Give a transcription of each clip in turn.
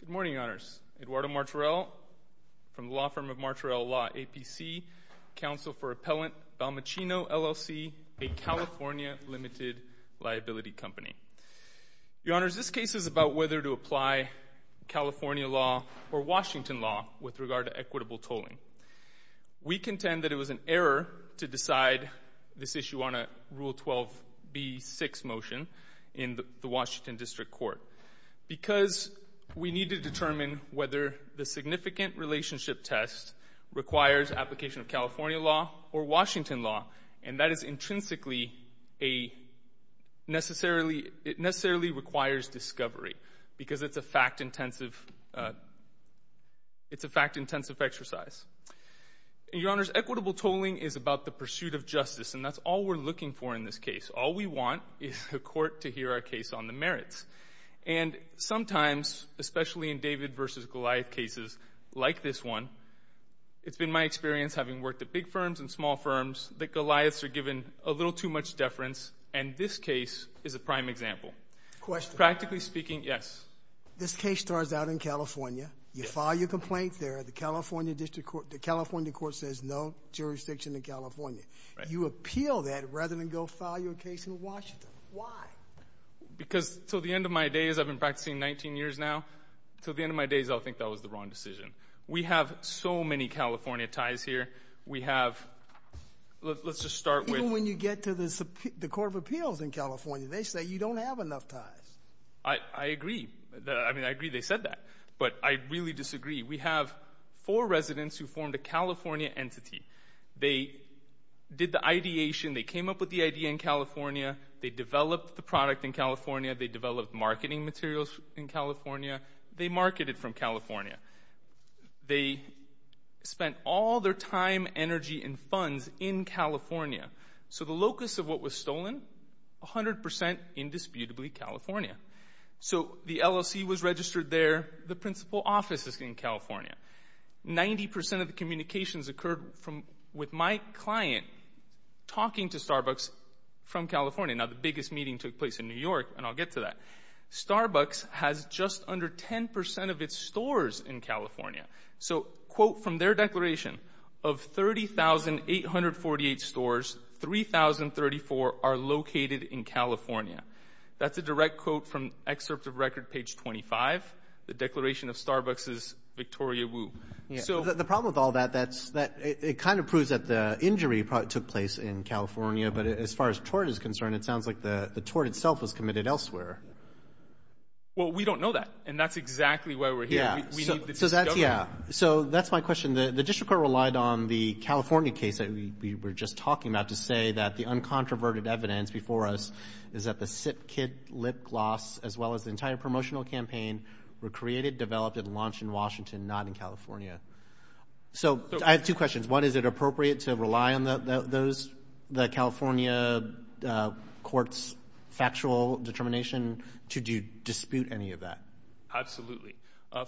Good morning, Your Honors. Eduardo Martorell from the law firm of Martorell Law, APC, Counsel for Appellant Balmuccino, LLC, a California limited liability company. Your Honors, this is about whether to apply California law or Washington law with regard to equitable tolling. We contend that it was an error to decide this issue on a Rule 12b6 motion in the Washington District Court because we need to determine whether the significant relationship test requires application of California law or Washington law, and that is intrinsically a necessarily requires discovery because it's a fact-intensive exercise. Your Honors, equitable tolling is about the pursuit of justice, and that's all we're looking for in this case. All we want is the Court to hear our case on the merits. And sometimes, especially in David v. Goliath cases like this one, it's been my experience having worked at big firms and small firms that Goliaths are given a little too much deference, and this case is a prime example. Question. Practically speaking, yes. This case starts out in California. You file your complaint there. The California District Court, the California Court says no jurisdiction in California. You appeal that rather than go file your case in Washington. Why? Because until the end of my days, I've been practicing 19 years now, until the end of my days, I'll think that was the wrong decision. We have so many California ties here. We have – let's just start with Even when you get to the Court of Appeals in California, they say you don't have enough ties. I agree. I mean, I agree they said that, but I really disagree. We have four residents who formed a California entity. They did the ideation. They came up with the idea in California. They developed the product in California. They developed marketing materials in California. They marketed from California. They spent all their time, energy, and funds in California. So the locus of what was stolen? 100% indisputably California. So the LLC was registered there. The principal office is in California. 90% of the communications occurred with my client talking to Starbucks from California. Now, the biggest meeting took place in New York, and I'll get to that. Starbucks has just under 10% of its stores in California. So, quote from their declaration, of 30,848 stores, 3,034 are located in California. That's a direct quote from excerpt of record page 25, the declaration of Starbucks' Victoria Woo. The problem with all that, it kind of proves that the injury took place in California, but as far as tort is concerned, it sounds like the tort itself was committed elsewhere. Well, we don't know that, and that's exactly why we're here. We need the district government. Yeah. So that's my question. The district court relied on the California case that we were just talking about to say that the uncontroverted evidence before us is that the sip kid lip gloss, as well as the entire promotional campaign, were created, developed, and launched in Washington, not in California. So I have two questions. One, is it appropriate to rely on those, the California court's factual determination, to dispute any of that? Absolutely.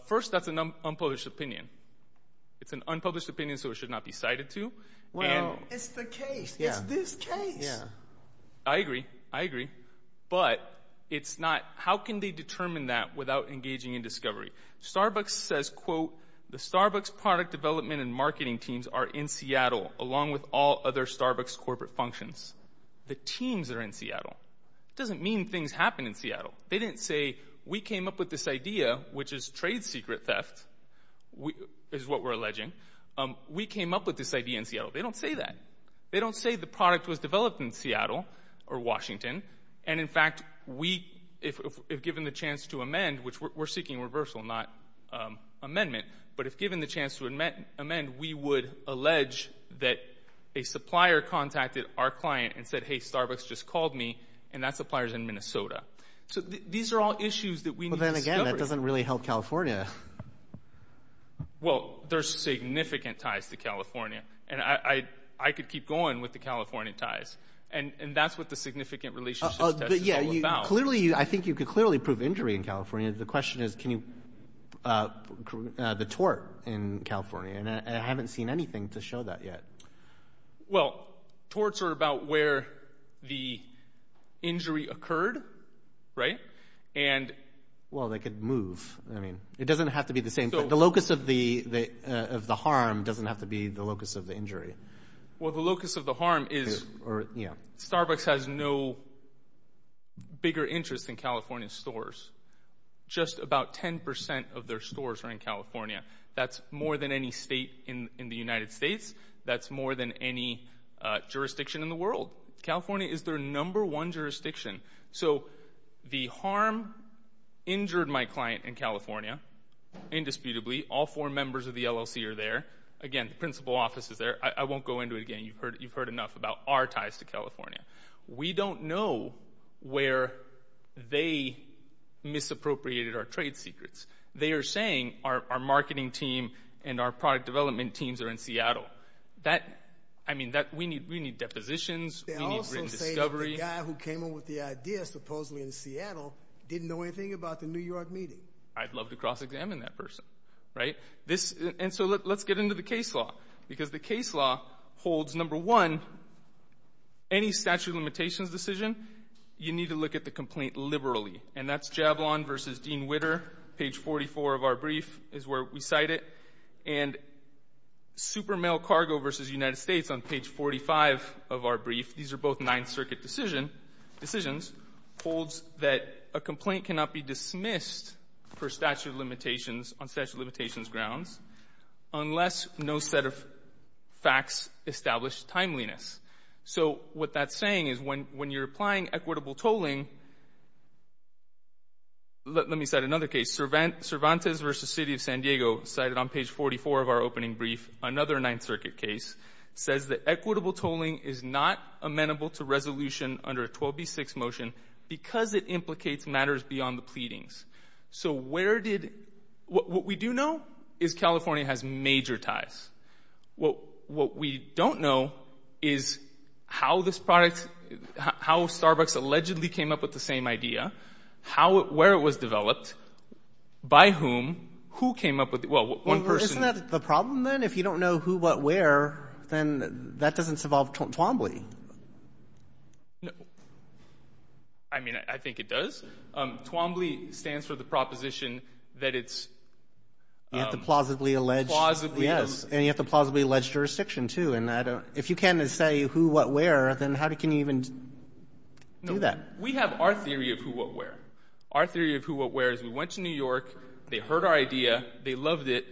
First, that's an unpublished opinion. It's an unpublished opinion, so it should not be cited to. Well, it's the case. It's this case. I agree. I agree. But it's not, how can they determine that without engaging in discovery? Starbucks says, quote, the Starbucks product development and marketing teams are in Seattle, along with all other Starbucks corporate functions. The teams are in Seattle. It doesn't mean things happen in Seattle. They didn't say, we came up with this idea, which is trade secret theft, is what we're alleging. We came up with this idea in Seattle. They don't say that. They don't say the product was developed in Seattle or Washington, and in fact, if given the chance to amend, which we're seeking reversal, not amendment, but if given the chance to amend, we would allege that a supplier contacted our client and said, hey, Starbucks just called me, and that supplier's in Minnesota. So these are all issues that we need to discover. But then again, that doesn't really help California. Well, there's significant ties to California, and I could keep going with the California ties, and that's what the significant relationship test is all about. I think you could clearly prove injury in California. The question is, can you, the torts in California, and I haven't seen anything to show that yet. Well, torts are about where the injury occurred, right? And well, they could move. I mean, it doesn't have to be the same. The locus of the harm doesn't have to be the locus of the injury. Well, the locus of the harm is Starbucks has no bigger interest in California stores. Just about 10% of their stores are in California. That's more than any state in the United States. That's more than any jurisdiction in the world. California is their number one jurisdiction. So the harm injured my client in California, indisputably. All four members of the LLC are there. Again, the principal office is there. I won't go into it again. You've heard enough about our ties to California. We don't know where they misappropriated our trade secrets. They are saying our marketing team and our product development teams are in Seattle. That, I mean, we need depositions. They also say the guy who came up with the idea, supposedly in Seattle, didn't know anything about the New York meeting. I'd love to cross-examine that person, right? And so let's get into the case law, because the case law holds, number one, any statute of limitations decision, you need to look at the complaint liberally. And that's Javelin v. Dean Witter, page 44 of our brief is where we cite it. And Supermail Cargo v. United States on page 45 of our brief, these are both Ninth Circuit decision — decisions, holds that a complaint cannot be dismissed per statute of limitations on statute of limitations grounds unless no set of facts establish timeliness. So what that's saying is when you're applying equitable tolling — let me cite another case, Cervantes v. City of San Diego, cited on page 44 of our opening brief, another Ninth Circuit case, says that equitable tolling is not amenable to resolution under a 12b6 motion because it implicates matters beyond the pleadings. So where did — what we do know is California has major ties. What we don't know is how this product — how Starbucks allegedly came up with the same idea, how — where it was developed, by whom, who came up with it — well, one person — Isn't that the problem, then? If you don't know who, what, where, then that doesn't involve Twombly. No. I mean, I think it does. Twombly stands for the proposition that it's — You have to plausibly allege — Plausibly, yes. Yes. And you have to plausibly allege jurisdiction, too. And I don't — if you can't say who, what, where, then how can you even do that? We have our theory of who, what, where. Our theory of who, what, where is we went to New York, they heard our idea, they loved it,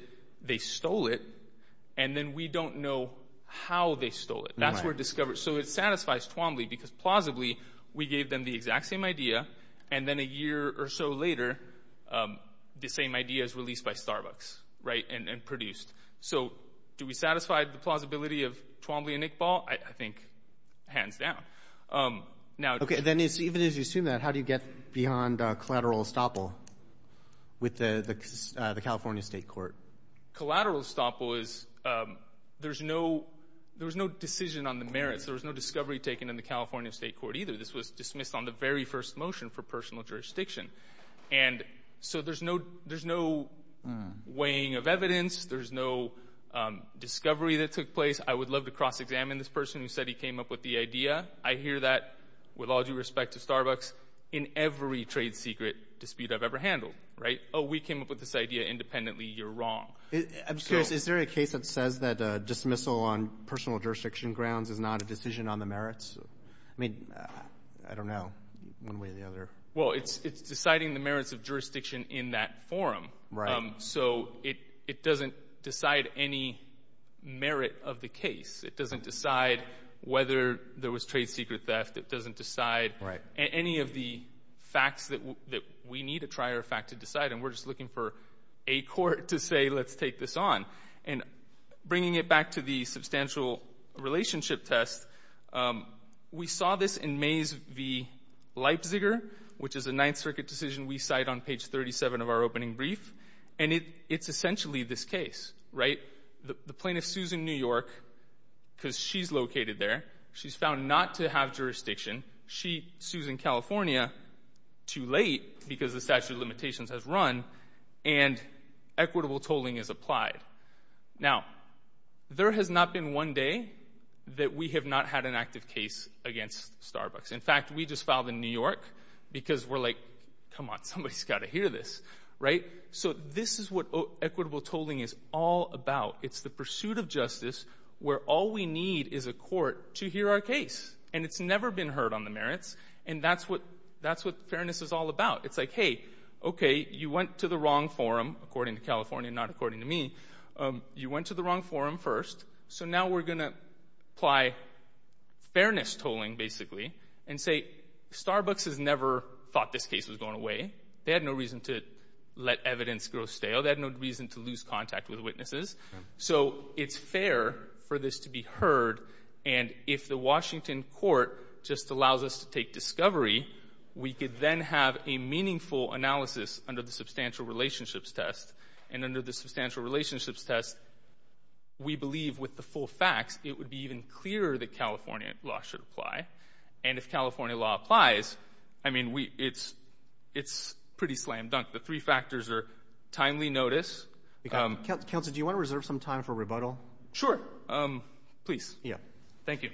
they stole it, and then we don't know how they stole it. That's where — so it satisfies Twombly, because plausibly, we gave them the exact same idea, and then a year or so later, the same idea is released by Starbucks, right, and produced. So do we satisfy the plausibility of Twombly and Iqbal? I think hands down. Okay, then even as you assume that, how do you get beyond collateral estoppel with the California State Court? Collateral estoppel is there's no decision on the merits. There was no discovery taken in the California State Court either. This was dismissed on the very first motion for personal jurisdiction. And so there's no weighing of evidence. There's no discovery that took place. I would love to cross-examine this person who said he came up with the idea. I hear that with all due respect to Starbucks in every trade secret dispute I've ever handled, right? Oh, we came up with this idea independently. You're wrong. I'm curious. Is there a case that says that dismissal on personal jurisdiction grounds is not a decision on the merits? I mean, I don't know, one way or the other. Well, it's deciding the merits of jurisdiction in that forum. So it doesn't decide any merit of the case. It doesn't decide whether there was trade secret theft. It doesn't decide any of the facts that we need a trier of fact to decide. And we're just looking for a court to say, let's take this on. And bringing it back to the substantial relationship test, we saw this in Mays v. Leipziger, which is a Ninth Circuit decision we cite on page 37 of our opening brief. And it's essentially this case, right? The plaintiff, Susan New York, because she's located there, she's found not to have jurisdiction. She sues in California too late because the statute of limitations has run, and equitable tolling is applied. Now, there has not been one day that we have not had an active case against Starbucks. In fact, we just filed in New York because we're like, come on, somebody's got to hear this, right? So this is what equitable tolling is all about. It's the pursuit of justice where all we need is a court to hear our case. And it's never been heard on the merits. And that's what fairness is all about. It's like, hey, okay, you went to the wrong forum, according to California, not according to me. You went to the wrong forum first, so now we're going to apply fairness tolling, basically, and say, Starbucks has never thought this case was going away. They had no reason to let evidence go stale. They had no reason to lose contact with witnesses. So it's fair for this to be heard. And if the Washington court just allows us to take discovery, we could then have a meaningful analysis under the substantial relationships test. And under the substantial relationships test, we believe with the full facts, it would be even clearer that California law should apply. And if California law applies, I mean, it's pretty slam dunk. The three factors are timely notice. Counsel, do you want to reserve some time for rebuttal? Sure. Please. Thank you.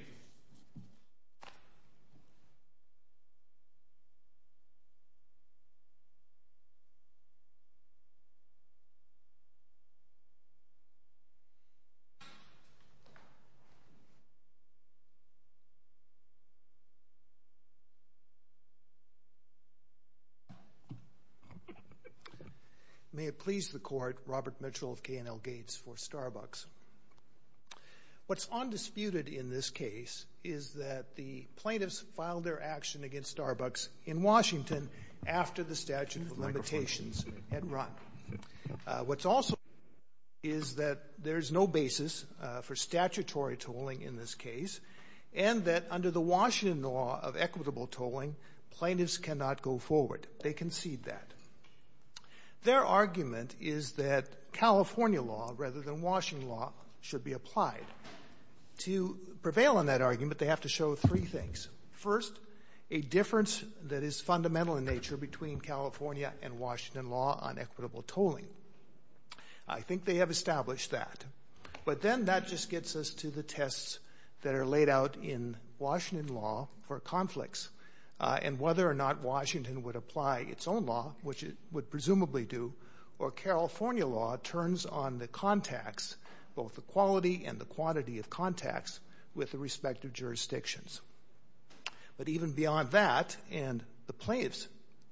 May it please the court, Robert Mitchell of K&L Gates for Starbucks. What's undisputed in this case is that the plaintiffs filed their action against Starbucks in Washington after the statute of limitations had run. What's also is that there's no basis for statutory tolling in this case, and that under the Washington law of equitable tolling, plaintiffs cannot go forward. They concede that. Their argument is that California law, rather than Washington law, should be applied. To prevail on that argument, they have to show three things. First, a difference that is fundamental in nature between California and Washington law on equitable tolling. I think they have established that. But then that just gets us to the tests that are laid out in Washington law for conflicts, and whether or not Washington would apply its own law, which it would presumably do, or California law turns on the contacts, both the quality and the quantity of contacts, with the respective jurisdictions. But even beyond that, and the plaintiff's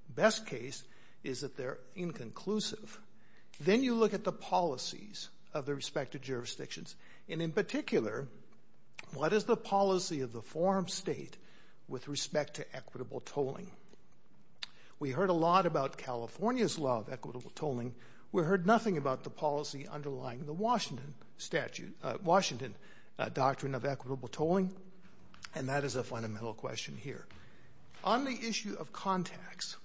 best case is that they're inconclusive. Then you look at the policies of the respective jurisdictions, and in particular, what is the policy of the forum state with respect to equitable tolling? We heard a lot about California's law of equitable tolling. We heard nothing about the policy underlying the Washington statute, Washington doctrine of equitable tolling, and that is a fundamental question here. On the issue of contacts,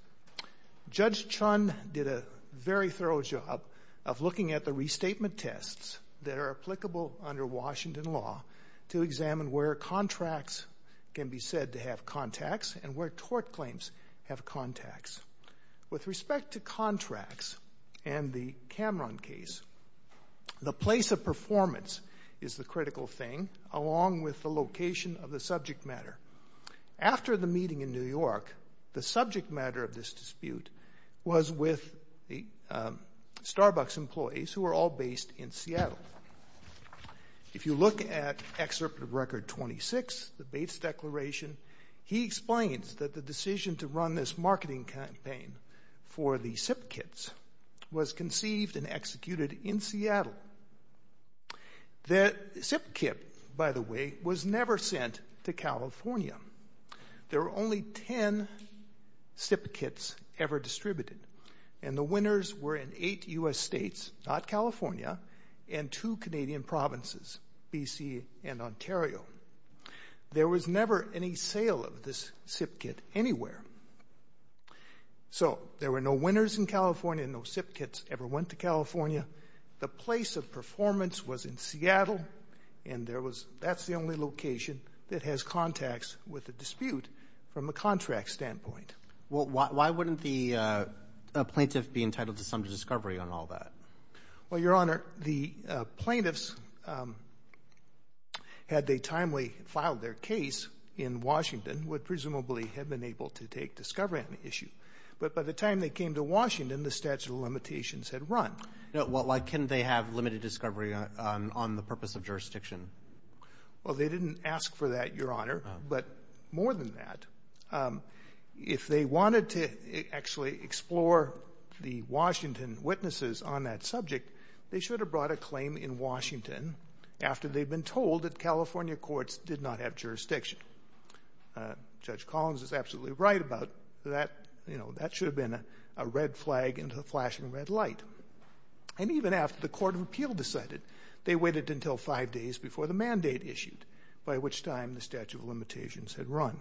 Judge Chun did a very thorough job of looking at the restatement tests that are applicable under Washington law to examine where contracts can be said to have contacts and where tort claims have contacts. With respect to contracts and the Cameron case, the place of performance is the critical thing, along with the location of the subject matter. After the meeting in New York, the subject matter of this dispute was with the Starbucks employees, who are all based in Seattle. If you look at Excerpt of Record 26, the Bates Declaration, he explains that the decision to run this marketing campaign for the SIP kits was conceived and executed in Seattle. The SIP kit, by the way, was never sent to California. There were only 10 SIP kits ever distributed, and the winners were in eight U.S. states, not California, and two Canadian provinces, B.C. and Ontario. There was never any sale of this SIP kit anywhere. So there were no winners in California and no SIP kits ever went to California. The place of performance was in Seattle, and that's the only location that has contacts with the dispute from a contract standpoint. Well, why wouldn't the plaintiff be entitled to some discovery on all that? Well, Your Honor, the plaintiffs, had they timely filed their case in Washington, would presumably have been able to take discovery on the issue. But by the time they came to Washington, the statute of limitations had run. Well, why can't they have limited discovery on the purpose of jurisdiction? Well, they didn't ask for that, Your Honor, but more than that, if they wanted to actually explore the Washington witnesses on that subject, they should have brought a claim in Washington after they'd been told that California courts did not have jurisdiction. Judge Collins is absolutely right about that. That should have been a red flag and a flashing red light. And even after the Court of Appeal decided, they waited until five days before the mandate issued, by which time the statute of limitations had run.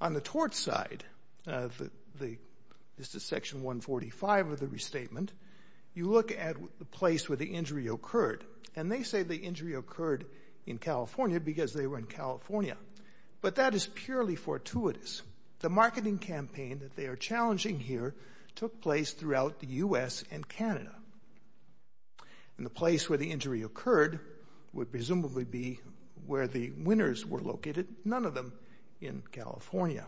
On the tort side, this is Section 145 of the restatement, you look at the place where the injury occurred. And they say the injury occurred in California because they were in California. But that is purely fortuitous. The marketing campaign that they are challenging here took place throughout the U.S. and Canada. And the place where the injury occurred would presumably be where the winners were located, none of them in California.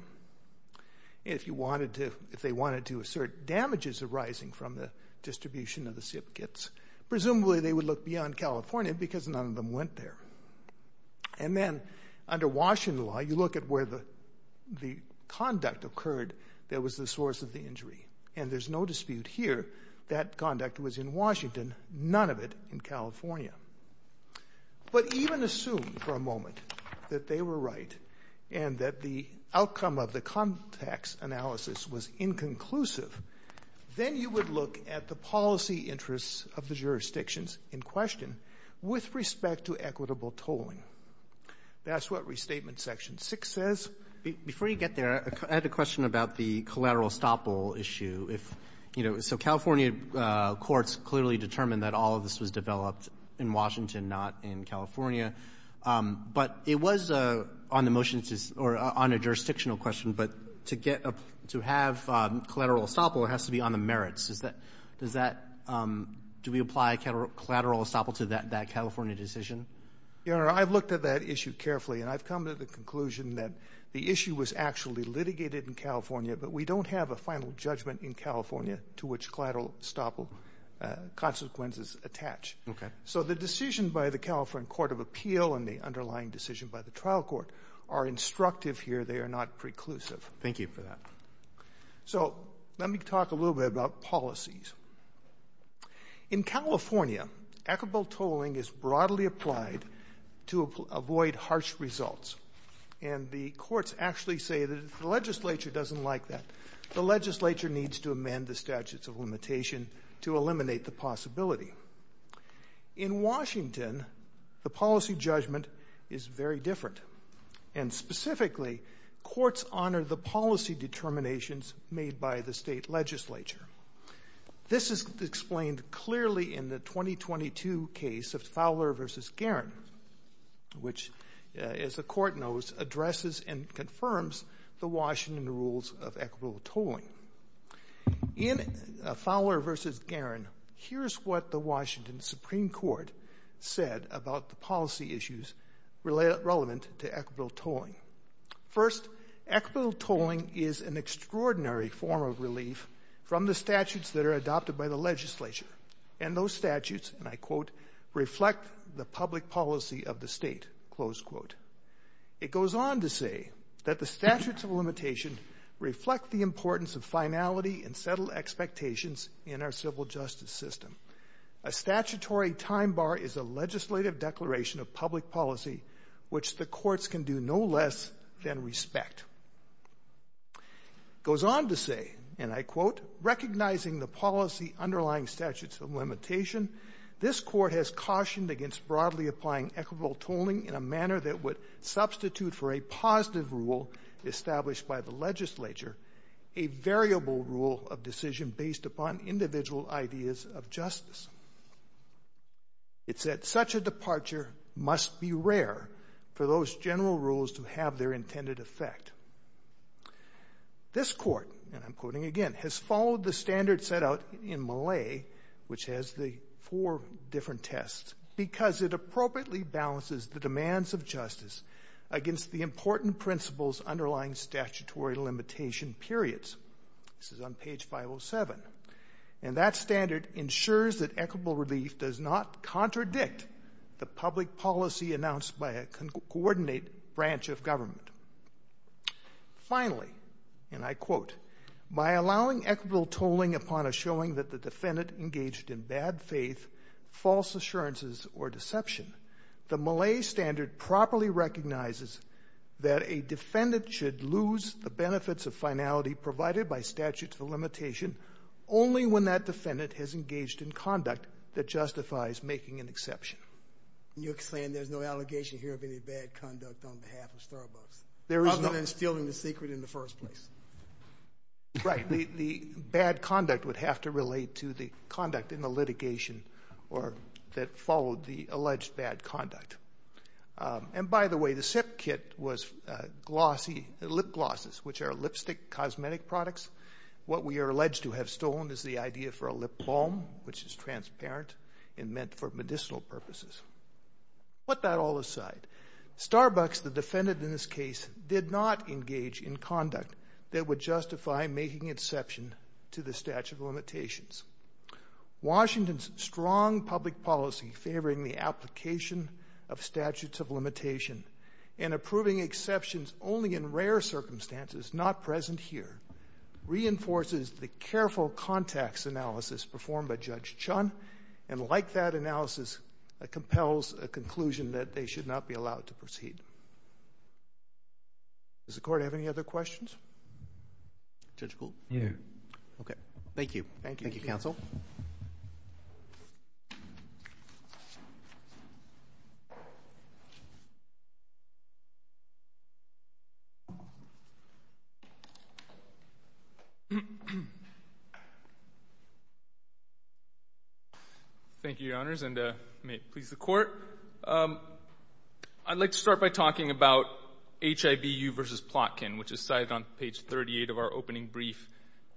If they wanted to assert damages arising from the distribution of the SIP kits, presumably they would look beyond California because none of them went there. And then under Washington law, you look at where the conduct occurred that was the source of the injury. And there's no dispute here that conduct was in Washington, none of it in California. But even assume for a moment that they were right and that the outcome of the context analysis was inconclusive, then you would look at the policy interests of the jurisdictions in question with respect to equitable tolling. That's what Restatement Section 6 says. Roberts. Before you get there, I had a question about the collateral estoppel issue. If, you know, so California courts clearly determined that all of this was developed in Washington, not in California. But it was on the motion to or on a jurisdictional question, but to get a to have collateral estoppel, it has to be on the merits. Does that do we apply collateral estoppel to that California decision? Your Honor, I've looked at that issue carefully, and I've come to the conclusion that the issue was actually litigated in California, but we don't have a final judgment in California to which collateral estoppel consequences attach. Okay. So the decision by the California Court of Appeal and the underlying decision by the trial court are instructive here. They are not preclusive. Thank you for that. So let me talk a little bit about policies. In California, equitable tolling is broadly applied to avoid harsh results. And the courts actually say that if the legislature doesn't like that, the legislature needs to amend the statutes of limitation to eliminate the possibility. In Washington, the policy judgment is very different. And specifically, courts honor the policy determinations made by the state legislature. This is explained clearly in the 2022 case of Fowler v. Garin, which, as the court knows, addresses and confirms the Washington rules of equitable tolling. In Fowler v. Garin, here's what the Washington Supreme Court said about the issues relevant to equitable tolling. First, equitable tolling is an extraordinary form of relief from the statutes that are adopted by the legislature. And those statutes, and I quote, reflect the public policy of the state, close quote. It goes on to say that the statutes of limitation reflect the importance of finality and settled expectations in our civil justice system. A statutory time bar is a legislative declaration of public policy which the courts can do no less than respect. It goes on to say, and I quote, recognizing the policy underlying statutes of limitation, this court has cautioned against broadly applying equitable tolling in a manner that would substitute for a positive rule established by the legislature, a variable rule of decision based upon individual ideas of justice. It's that such a departure must be rare for those general rules to have their intended effect. This court, and I'm quoting again, has followed the standard set out in Malay, which has the four different tests, because it appropriately balances the demands of justice against the important principles underlying statutory limitation periods. This is on page 507. And that standard ensures that equitable relief does not contradict the public policy announced by a coordinate branch of government. Finally, and I quote, by allowing equitable tolling upon a showing that the defendant engaged in bad faith, false assurances, or deception, the Malay standard properly recognizes that a defendant should lose the benefits of finality provided by statutes of limitation only when that defendant has engaged in conduct that justifies making an exception. You're saying there's no allegation here of any bad conduct on behalf of Starbucks, other than stealing the secret in the first place? Right. The bad conduct would have to relate to the conduct in the litigation or that followed the alleged bad conduct. And by the way, the SIP kit was glossy lip glosses, which are lipstick cosmetic products. What we are alleged to have stolen is the idea for a lip balm, which is transparent and meant for medicinal purposes. Put that all aside, Starbucks, the defendant in this case, did not engage in conduct that would justify making exception to the statute of limitations. Washington's strong public policy favoring the application of statutes of limitation and approving exceptions only in rare circumstances, not present here, reinforces the careful context analysis performed by Judge Chun, and like that analysis compels a conclusion that they should not be allowed to proceed. Does the court have any other questions? Judge Gould? No. Okay. Thank you. Thank you, counsel. Thank you, Your Honors, and may it please the Court. I'd like to start by talking about HIVU v. Plotkin, which is cited on page 38 of our opening brief.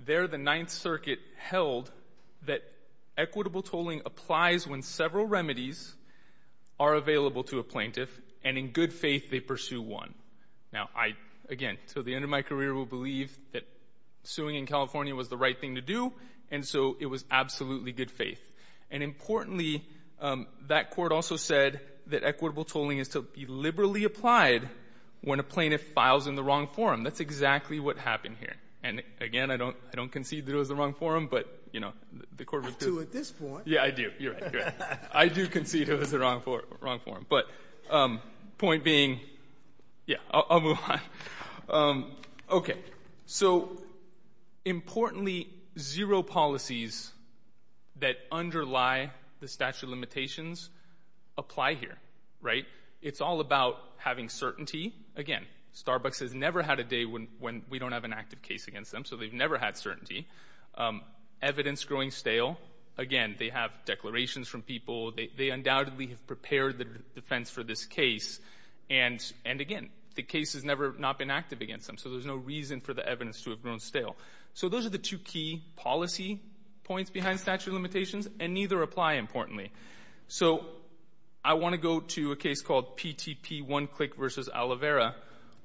There, the Ninth Circuit held that equitable tolling applies when several remedies are available to a plaintiff and in good faith they pursue one. Now, I, again, until the end of my career will believe that suing in California was the right thing to do, and so it was absolutely good faith. And importantly, that court also said that equitable tolling is to be liberally applied when a plaintiff files in the wrong forum. That's exactly what happened here. And again, I don't concede that it was the wrong forum, but, you know, the court was— I do at this point. Yeah, I do. You're right. I do concede it was the wrong forum. But point being, yeah, I'll move on. Okay. So, importantly, zero policies that underlie the statute of limitations apply here, right? It's all about having certainty. Again, Starbucks has never had a day when we don't have an active case against them, so they've never had certainty. Evidence growing stale. Again, they have declarations from people. They undoubtedly have prepared the defense for this case. And again, the case has never not been active against them, so there's no reason for the evidence to have grown stale. So those are the two key policy points behind statute of limitations, and neither apply, importantly. So I want to go to a case called PTP One Click v. Alivera,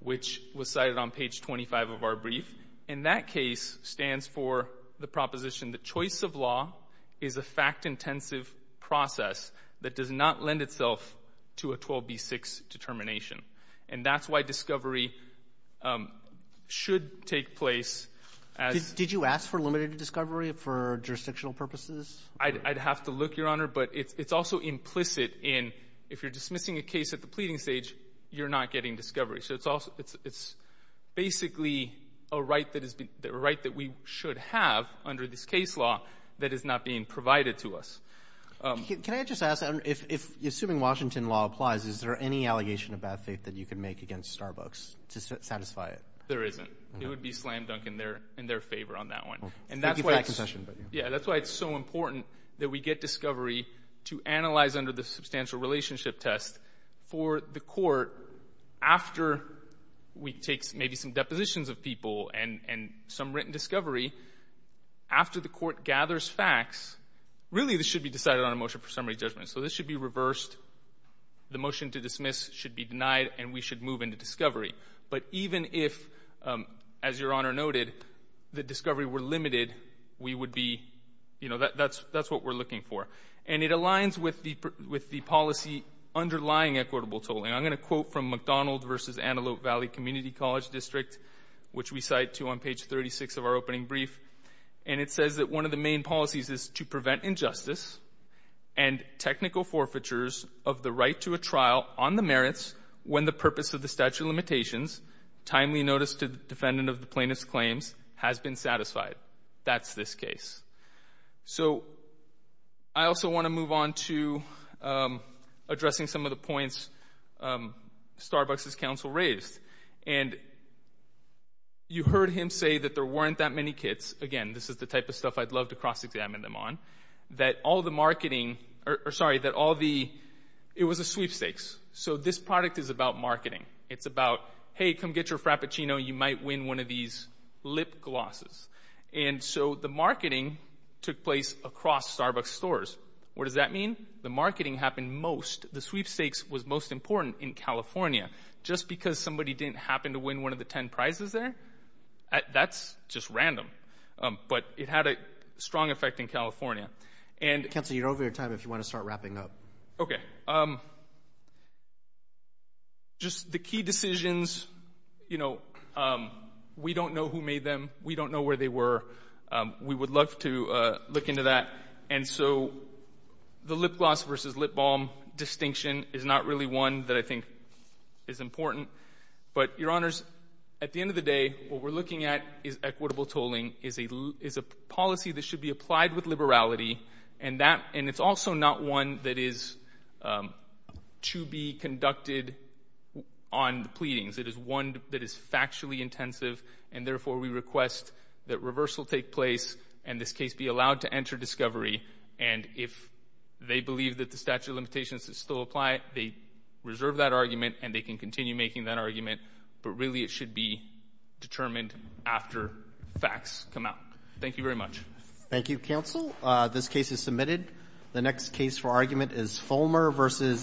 which was cited on page 25 of our brief. And that case stands for the proposition that choice of law is a fact-intensive process that does not lend itself to a 12b-6 determination. And that's why discovery should take place as— Did you ask for limited discovery for jurisdictional purposes? I'd have to look, Your Honor, but it's also implicit in if you're dismissing a case at the pleading stage, you're not getting discovery. So it's basically a right that we should have under this case law that is not being provided to us. Can I just ask, assuming Washington law applies, is there any allegation of bad faith that you can make against Starbucks to satisfy it? There isn't. It would be slam-dunk in their favor on that one. Thank you for that confession. Yeah, that's why it's so important that we get discovery to analyze under the substantial relationship test for the court after we take maybe some depositions of people and some written discovery. After the court gathers facts, really, this should be decided on a motion for summary judgment. So this should be reversed. The motion to dismiss should be denied, and we should move into discovery. But even if, as Your Honor noted, the discovery were limited, we would be — you know, that's what we're looking for. And it aligns with the policy underlying equitable tolling. I'm going to quote from McDonald v. Antelope Valley Community College District, which we cite to on page 36 of our opening brief. And it says that one of the main policies is to prevent injustice and technical forfeitures of the right to a trial on the merits when the purpose of the statute of limitations, timely notice to the defendant of the plaintiff's claims, has been satisfied. That's this case. So I also want to move on to addressing some of the points Starbucks' counsel raised. And you heard him say that there weren't that many kits — again, this is the type of stuff I'd love to cross-examine them on — that all the marketing — or, sorry, that all the — it was a sweepstakes. So this product is about marketing. It's about, hey, come get your Frappuccino. You might win one of these lip glosses. And so the marketing took place across Starbucks stores. What does that mean? The marketing happened most — the sweepstakes was most important in California. Just because somebody didn't happen to win one of the 10 prizes there, that's just random. But it had a strong effect in California. And — Counsel, you're over your time if you want to start wrapping up. Okay. Just the key decisions, you know, we don't know who made them. We don't know where they were. We would love to look into that. And so the lip gloss versus lip balm distinction is not really one that I think is important. But, Your Honors, at the end of the day, what we're looking at is equitable tolling, is a policy that should be applied with liberality. And that — and it's also not one that is to be conducted on pleadings. It is one that is factually intensive. And therefore, we request that reversal take place and this case be allowed to enter discovery. And if they believe that the statute of limitations is still applied, they reserve that argument and they can continue making that argument. But really, it should be determined after facts come out. Thank you very much. Thank you, Counsel. This case is submitted. The next case for argument is Fulmer versus